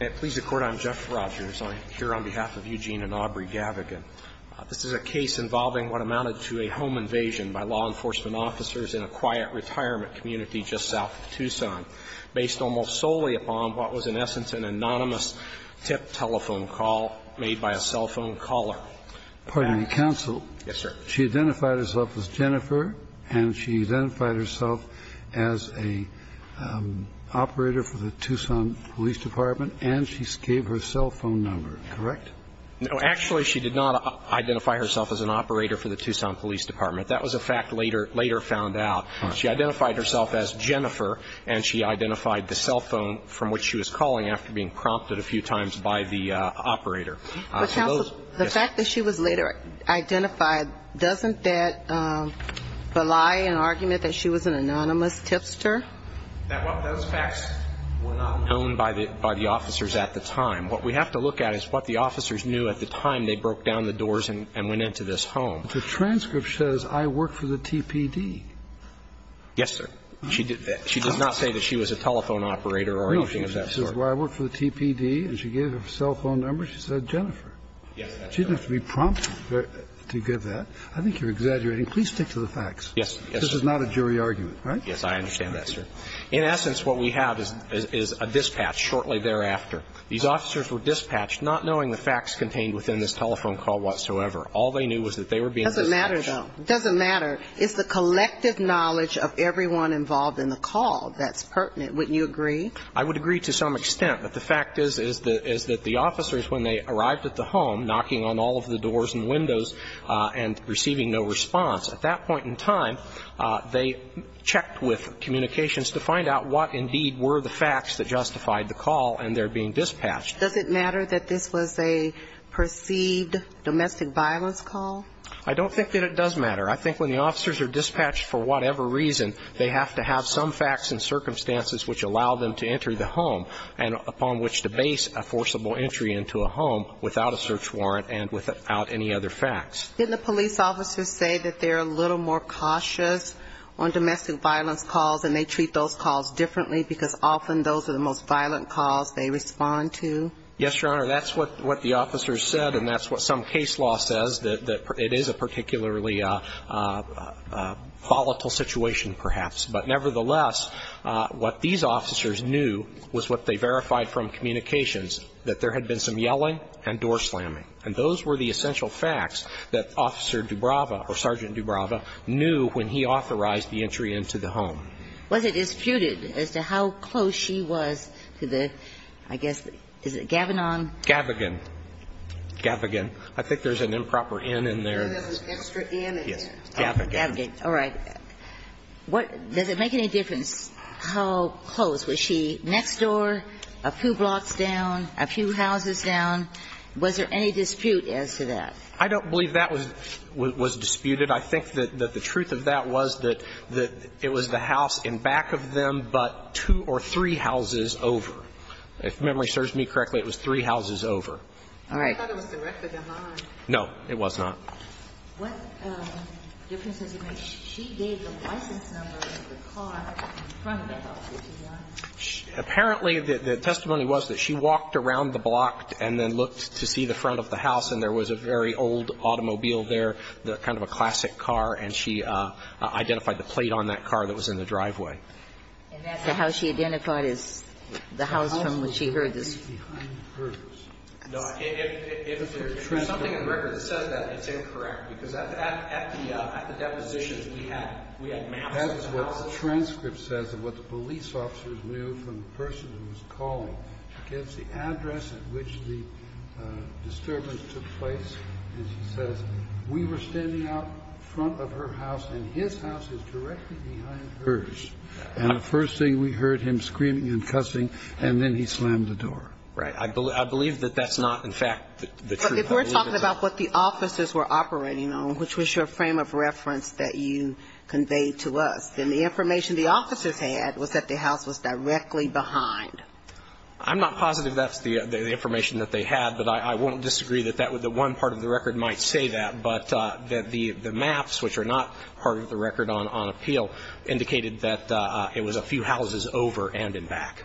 I'm here on behalf of Eugene and Aubrey Gavignan. This is a case involving what amounted to a home invasion by law enforcement officers in a quiet retirement community just south of Tucson, based almost solely upon what was in essence an anonymous tip telephone call made by a cell phone caller. Pardon me, counsel. Yes, sir. She identified herself as Jennifer, and she identified herself as a operator for the Tucson Police Department, and she gave her cell phone number, correct? No, actually, she did not identify herself as an operator for the Tucson Police Department. That was a fact later found out. She identified herself as Jennifer, and she identified the cell phone from which she was calling after being prompted a few times by the operator. But, counsel, the fact that she was later identified, doesn't that belie an argument that she was an anonymous tipster? Those facts were not known by the officers at the time. What we have to look at is what the officers knew at the time they broke down the doors and went into this home. The transcript says, I work for the TPD. Yes, sir. She does not say that she was a telephone operator or anything of that sort. She says, well, I work for the TPD, and she gave her cell phone number. She said Jennifer. Yes, that's correct. She didn't have to be prompted to give that. I think you're exaggerating. Please stick to the facts. Yes. This is not a jury argument, right? Yes, I understand that, sir. In essence, what we have is a dispatch shortly thereafter. These officers were dispatched not knowing the facts contained within this telephone call whatsoever. All they knew was that they were being dispatched. It doesn't matter, though. It doesn't matter. It's the collective knowledge of everyone involved in the call that's pertinent. Wouldn't you agree? I would agree to some extent. But the fact is, is that the officers, when they arrived at the home, knocking on all of the doors and windows and receiving no response, at that point in time, they checked with communications to find out what indeed were the facts that justified the call, and they're being dispatched. Does it matter that this was a perceived domestic violence call? I don't think that it does matter. I think when the officers are dispatched for whatever reason, they have to have some reason to enter the home, and upon which to base a forcible entry into a home without a search warrant and without any other facts. Didn't the police officers say that they're a little more cautious on domestic violence calls, and they treat those calls differently, because often those are the most violent calls they respond to? Yes, Your Honor. That's what the officers said, and that's what some case law says, that it is a particularly volatile situation, perhaps. But nevertheless, what these officers knew was what they verified from communications, that there had been some yelling and door slamming. And those were the essential facts that Officer Dubrava or Sergeant Dubrava knew when he authorized the entry into the home. Was it disputed as to how close she was to the, I guess, is it Gavinon? Gavigan. Gavigan. I think there's an improper N in there. There's an extra N in there. Yes. Gavigan. Gavigan. All right. What does it make any difference how close? Was she next door, a few blocks down, a few houses down? Was there any dispute as to that? I don't believe that was disputed. I think that the truth of that was that it was the house in back of them, but two or three houses over. If memory serves me correctly, it was three houses over. All right. I thought it was directly behind. No, it was not. What difference does it make? She gave the license number of the car in front of the house, which is not. Apparently, the testimony was that she walked around the block and then looked to see the front of the house, and there was a very old automobile there, kind of a classic car, and she identified the plate on that car that was in the driveway. And that's how she identified the house from which she heard this. I'm going to ask you a question about the transcript of the testimony, which is that the house is directly behind hers. No, if there's something in the record that says that, it's incorrect, because at the depositions, we had maps of the house. That is what the transcript says of what the police officers knew from the person who was calling. She gives the address at which the disturbance took place, and she says, we were standing out front of her house, and his house is directly behind hers. And the first thing we heard him screaming and cussing, and then he slammed the door. Right. I believe that that's not, in fact, the truth. But if we're talking about what the officers were operating on, which was your frame of reference that you conveyed to us, then the information the officers had was that the house was directly behind. I'm not positive that's the information that they had, but I won't disagree that that one part of the record might say that, but that the maps, which are not part of the record on appeal, indicated that it was a few houses over and in back.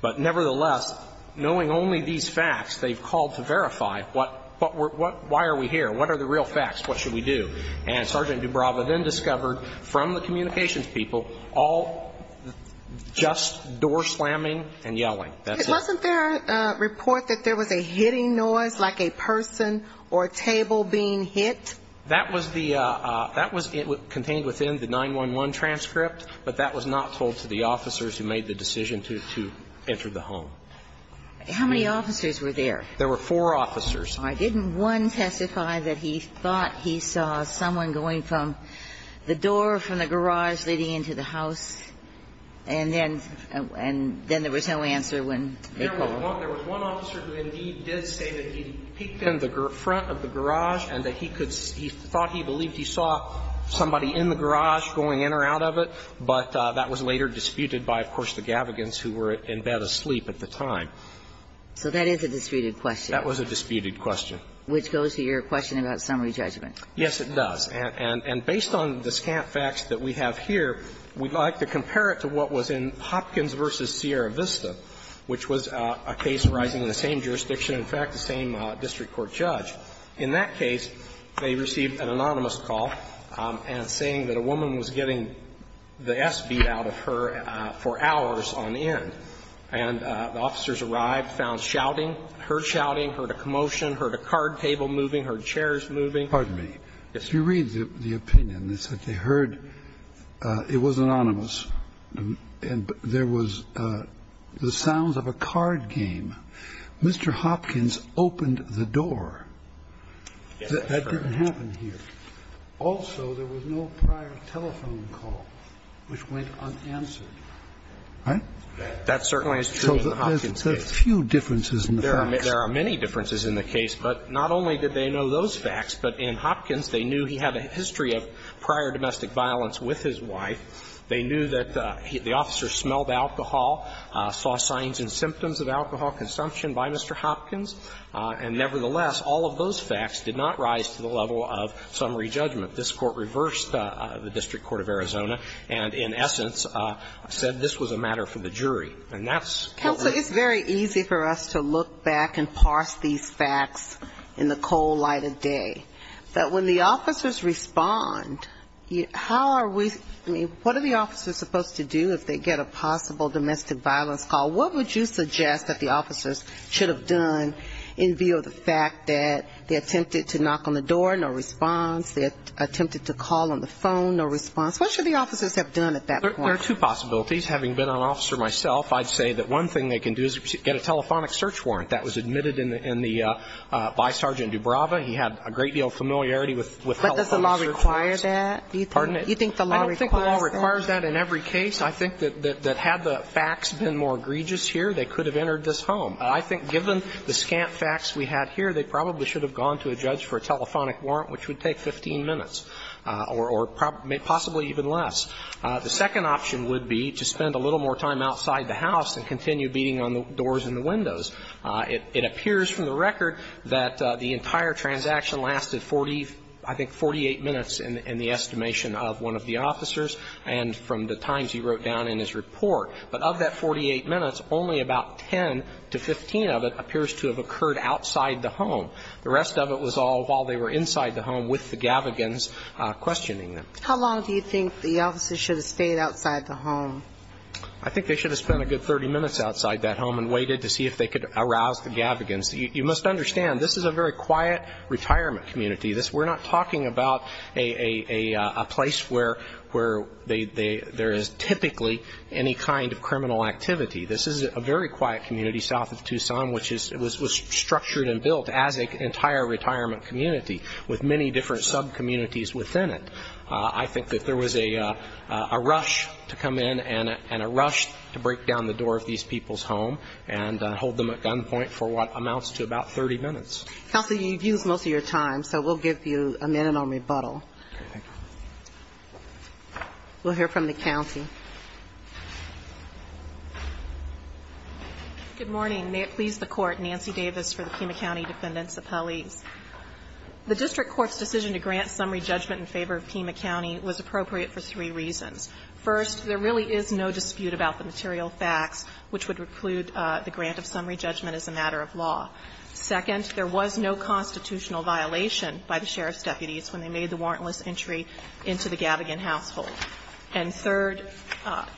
But nevertheless, knowing only these facts, they've called to verify, why are we here? What are the real facts? What should we do? And Sergeant Dubrava then discovered, from the communications people, all just door slamming and yelling. Wasn't there a report that there was a hitting noise, like a person or a table being hit? That was contained within the 911 transcript, but that was not told to the officers who made the decision to enter the home. How many officers were there? There were four officers. All right. Didn't one testify that he thought he saw someone going from the door from the front of the garage and that he thought he believed he saw somebody in the garage going in or out of it, but that was later disputed by, of course, the Gavigans who were in bed asleep at the time. So that is a disputed question. That was a disputed question. Which goes to your question about summary judgment. Yes, it does. And based on the scant facts that we have here, we'd like to compare it to what happened in the case of Gavigans v. Sierra Vista, which was a case arising in the same jurisdiction, in fact, the same district court judge. In that case, they received an anonymous call saying that a woman was getting the S beat out of her for hours on end. And the officers arrived, found shouting, heard shouting, heard a commotion, heard a card table moving, heard chairs moving. Pardon me. Yes, sir. Let me read the opinion. They said they heard it was anonymous and there was the sounds of a card game. Mr. Hopkins opened the door. Yes, sir. That didn't happen here. Also, there was no prior telephone call which went unanswered. Right? That certainly is true in the Hopkins case. So there's a few differences in the facts. There are many differences in the case, but not only did they know those facts, but in Hopkins they knew he had a history of prior domestic violence with his wife. They knew that the officer smelled alcohol, saw signs and symptoms of alcohol consumption by Mr. Hopkins. And, nevertheless, all of those facts did not rise to the level of summary judgment. This Court reversed the District Court of Arizona and, in essence, said this was a matter for the jury. And that's what we're going to do. Counsel, it's very easy for us to look back and parse these facts in the cold light of day. But when the officers respond, how are we, I mean, what are the officers supposed to do if they get a possible domestic violence call? What would you suggest that the officers should have done in view of the fact that they attempted to knock on the door, no response. They attempted to call on the phone, no response. What should the officers have done at that point? There are two possibilities. Having been an officer myself, I'd say that one thing they can do is get a telephonic search warrant. I think that was admitted in the by Sergeant Dubrava. He had a great deal of familiarity with telephone search warrants. But does the law require that? Pardon me? Do you think the law requires that? I don't think the law requires that in every case. I think that had the facts been more egregious here, they could have entered this home. I think given the scant facts we had here, they probably should have gone to a judge for a telephonic warrant, which would take 15 minutes or possibly even less. The second option would be to spend a little more time outside the house and continue beating on the doors and the windows. It appears from the record that the entire transaction lasted 40, I think 48 minutes in the estimation of one of the officers and from the times he wrote down in his report. But of that 48 minutes, only about 10 to 15 of it appears to have occurred outside the home. The rest of it was all while they were inside the home with the gavagans questioning How long do you think the officers should have stayed outside the home? I think they should have spent a good 30 minutes outside that home and waited to see if they could arouse the gavagans. You must understand, this is a very quiet retirement community. We're not talking about a place where there is typically any kind of criminal activity. This is a very quiet community south of Tucson, which was structured and built as an entire retirement community with many different sub-communities within it. I think that there was a rush to come in and a rush to break down the door of these people's home and hold them at gunpoint for what amounts to about 30 minutes. Counsel, you've used most of your time, so we'll give you a minute on rebuttal. Okay, thank you. We'll hear from the county. Good morning. May it please the court, Nancy Davis for the Pima County Defendants Appellees. The district court's decision to grant summary judgment in favor of Pima County was appropriate for three reasons. First, there really is no dispute about the material facts which would preclude the grant of summary judgment as a matter of law. Second, there was no constitutional violation by the sheriff's deputies when they made the warrantless entry into the gavagan household. And third,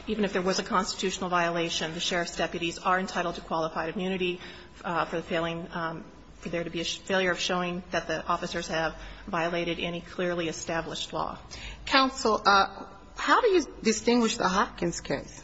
even if there was a constitutional violation, the sheriff's deputies are entitled to qualified immunity for the failing, for there to be a failure of showing that the officers have violated any clearly established law. Counsel, how do you distinguish the Hopkins case?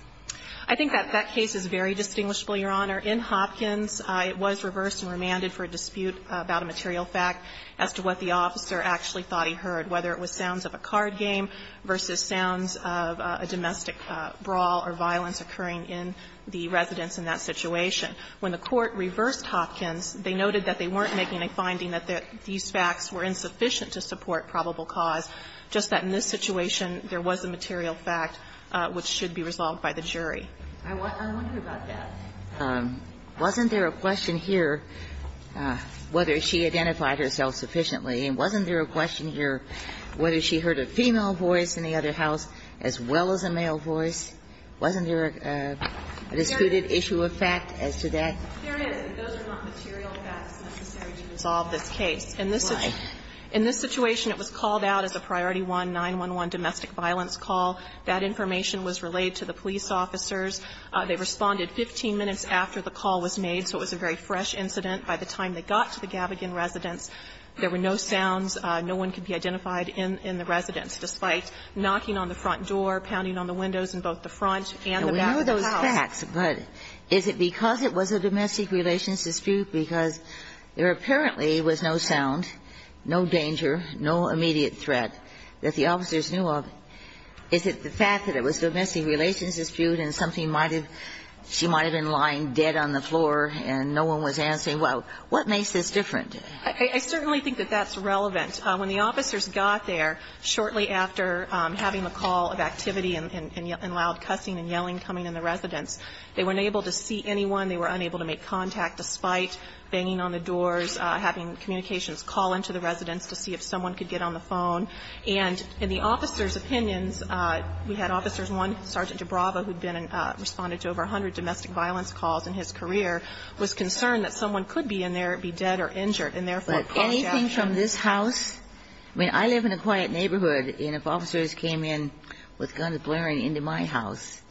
I think that that case is very distinguishable, Your Honor. In Hopkins, it was reversed and remanded for a dispute about a material fact as to what the officer actually thought he heard, whether it was sounds of a card game versus sounds of a domestic brawl or violence occurring in the residence in that situation. When the court reversed Hopkins, they noted that they weren't making a finding that these facts were insufficient to support probable cause, just that in this situation, there was a material fact which should be resolved by the jury. I wonder about that. Wasn't there a question here whether she identified herself sufficiently? And wasn't there a question here whether she heard a female voice in the other house as well as a male voice? Wasn't there a disputed issue of fact as to that? There is, but those are not material facts necessary to resolve this case. In this situation, it was called out as a Priority 1-911 domestic violence call. That information was relayed to the police officers. They responded 15 minutes after the call was made, so it was a very fresh incident. By the time they got to the Gavigan residence, there were no sounds. No one could be identified in the residence, despite knocking on the front door, pounding on the windows in both the front and the back of the house. And we knew those facts, but is it because it was a domestic relations dispute, because there apparently was no sound, no danger, no immediate threat that the officers knew of, is it the fact that it was a domestic relations dispute and something she might have been lying dead on the floor and no one was answering? Well, what makes this different? I certainly think that that's relevant. When the officers got there, shortly after having the call of activity and loud cussing and yelling coming in the residence, they were unable to see anyone. They were unable to make contact, despite banging on the doors, having communications call into the residence to see if someone could get on the phone. And in the officers' opinions, we had officers, one, Sergeant Jabrava, who had been in the residence, who had responded to over 100 domestic violence calls in his career, was concerned that someone could be in there, be dead or injured, and therefore called Jabrava. But anything from this house? I mean, I live in a quiet neighborhood, and if officers came in with guns blaring into my house,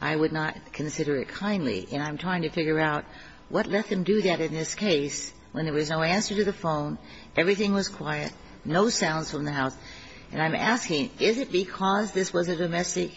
I would not consider it kindly. And I'm trying to figure out what let them do that in this case, when there was no answer to the phone, everything was quiet, no sounds from the house. And I'm asking, is it because this was a domestic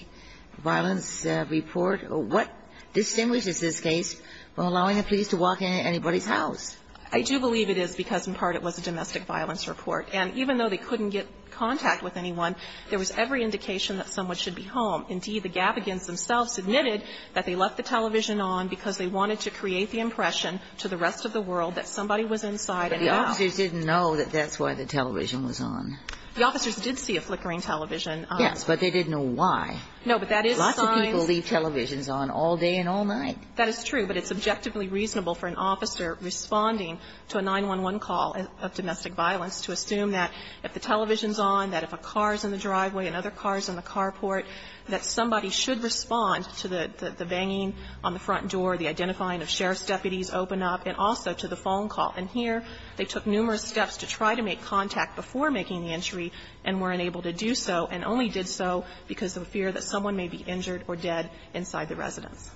violence report? What distinguishes this case from allowing a police to walk into anybody's house? I do believe it is because, in part, it was a domestic violence report. And even though they couldn't get contact with anyone, there was every indication that someone should be home. Indeed, the Gavigans themselves admitted that they left the television on because they wanted to create the impression to the rest of the world that somebody was inside and out. But the officers didn't know that that's why the television was on. The officers did see a flickering television. Yes, but they didn't know why. No, but that is a sign. Lots of people leave televisions on all day and all night. That is true, but it's objectively reasonable for an officer responding to a 911 call of domestic violence to assume that if the television is on, that if a car is in the driveway, another car is in the carport, that somebody should respond to the banging on the front door, the identifying of sheriff's deputies open up, and also to the phone call. And here, they took numerous steps to try to make contact before making the entry and were unable to do so, and only did so because of fear that someone may be injured or dead inside the residence.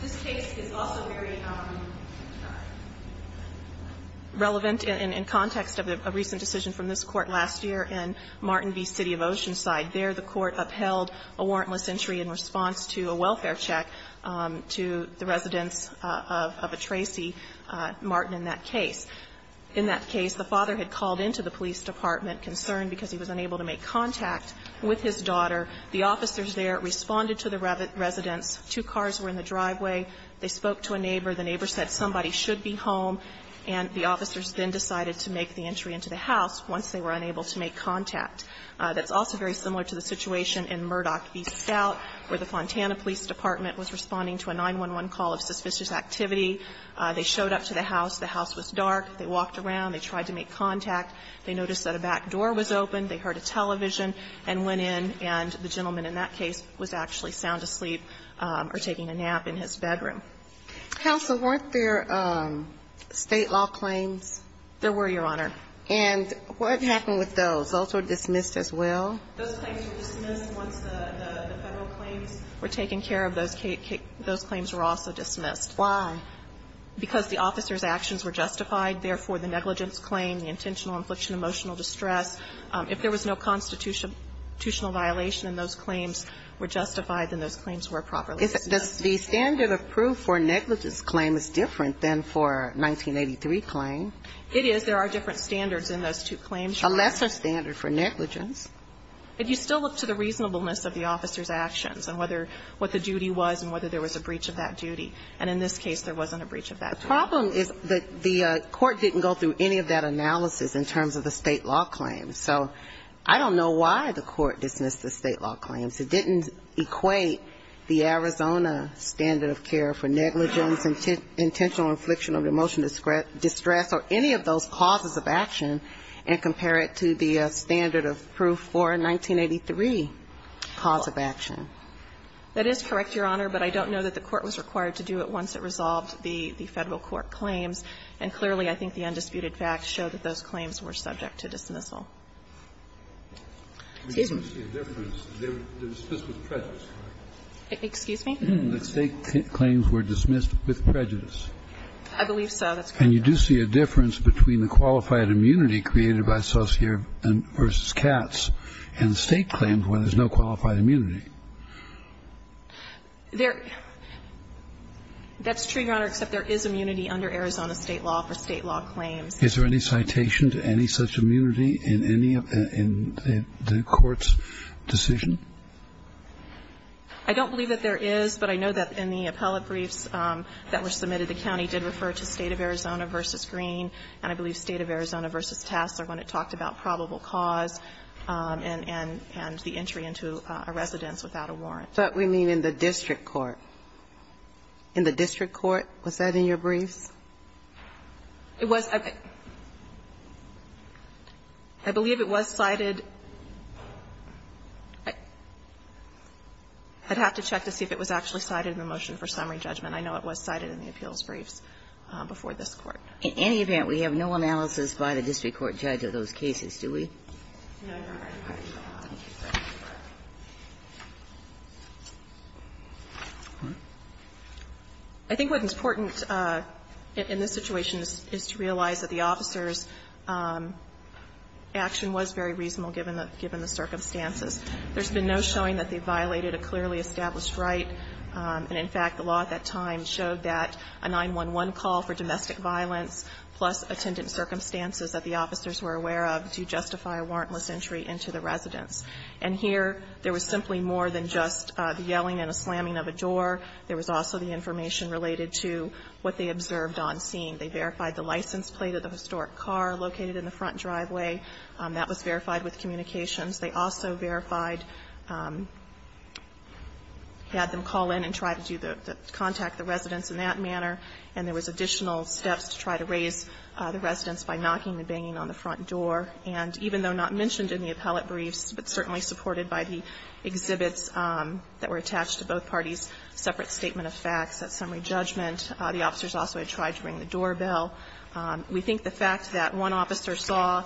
This case is also very relevant in context of a recent decision from this Court last year in Martin V. City of Oceanside. There, the Court upheld a warrantless entry in response to a welfare check to the residence of a Tracy Martin in that case. In that case, the father had called into the police department, concerned because he was unable to make contact with his daughter. The officers there responded to the residence. Two cars were in the driveway. They spoke to a neighbor. The neighbor said somebody should be home, and the officers then decided to make the entry into the house once they were unable to make contact. That's also very similar to the situation in Murdoch v. Scout, where the Fontana Police Department was responding to a 911 call of suspicious activity. They showed up to the house. The house was dark. They walked around. They tried to make contact. They noticed that a back door was open. They heard a television and went in, and the gentleman in that case was actually sound asleep or taking a nap in his bedroom. Counsel, weren't there State law claims? There were, Your Honor. And what happened with those? The results were dismissed as well? Those claims were dismissed once the Federal claims were taken care of. Those claims were also dismissed. Why? Because the officers' actions were justified. Therefore, the negligence claim, the intentional infliction of emotional distress, if there was no constitutional violation and those claims were justified, then those claims were properly dismissed. The standard of proof for a negligence claim is different than for a 1983 claim. It is. There are different standards in those two claims. A lesser standard for negligence. But you still look to the reasonableness of the officers' actions and whether what the duty was and whether there was a breach of that duty. And in this case, there wasn't a breach of that duty. The problem is that the court didn't go through any of that analysis in terms of the State law claims. So I don't know why the court dismissed the State law claims. It didn't equate the Arizona standard of care for negligence, intentional infliction of emotional distress, or any of those causes of action, and compare it to the standard of proof for a 1983 cause of action. That is correct, Your Honor. But I don't know that the court was required to do it once it resolved the Federal Court claims. And clearly, I think the undisputed facts show that those claims were subject to dismissal. Excuse me. Excuse me? The State claims were dismissed with prejudice. I believe so. That's correct. And you do see a difference between the qualified immunity created by Sosier v. Katz and the State claims when there's no qualified immunity. There – that's true, Your Honor, except there is immunity under Arizona State law for State law claims. Is there any citation to any such immunity in any of the court's decision? I don't believe that there is, but I know that in the appellate briefs that were submitted, the county did refer to State of Arizona v. Green, and I believe State of Arizona v. Tassler when it talked about probable cause and the entry into a residence without a warrant. But we mean in the district court. In the district court? Was that in your briefs? It was. I believe it was cited. I'd have to check to see if it was actually cited in the motion for summary judgment. I know it was cited in the appeals briefs before this Court. In any event, we have no analysis by the district court judge of those cases, do we? No, Your Honor. All right. Thank you. I think what is important in this situation is to realize that the officers' action was very reasonable given the circumstances. There's been no showing that they violated a clearly established right. And in fact, the law at that time showed that a 911 call for domestic violence plus attendant circumstances that the officers were aware of do justify a warrantless entry into the residence. And here, there was simply more than just the yelling and a slamming of a door. There was also the information related to what they observed on scene. They verified the license plate of the historic car located in the front driveway. That was verified with communications. They also verified, had them call in and try to contact the residents in that manner, and there was additional steps to try to raise the residents by knocking and banging on the front door. And even though not mentioned in the appellate briefs, but certainly supported by the exhibits that were attached to both parties' separate statement of facts at summary judgment, the officers also had tried to ring the doorbell. We think the fact that one officer saw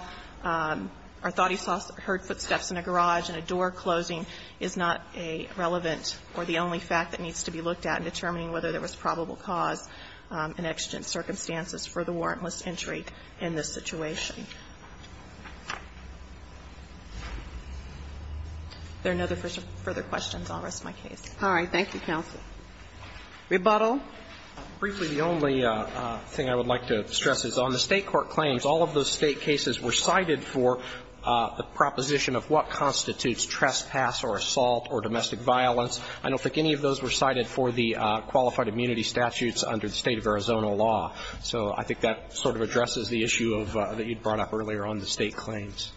or thought he heard footsteps in a garage and a door closing is not a relevant or the only fact that needs to be looked at in determining whether there was probable cause in exigent circumstances for the warrantless entry in this situation. If there are no further questions, I'll rest my case. All right. Thank you, counsel. Rebuttal. Briefly, the only thing I would like to stress is on the State court claims, all of those State cases were cited for the proposition of what constitutes trespass or assault or domestic violence. I don't think any of those were cited for the qualified immunity statutes under the State of Arizona law. So I think that sort of addresses the issue that you brought up earlier on the State claims.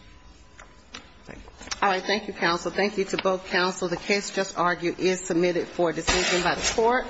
All right. Thank you, counsel. Thank you to both counsel. The case just argued is submitted for decision by the court.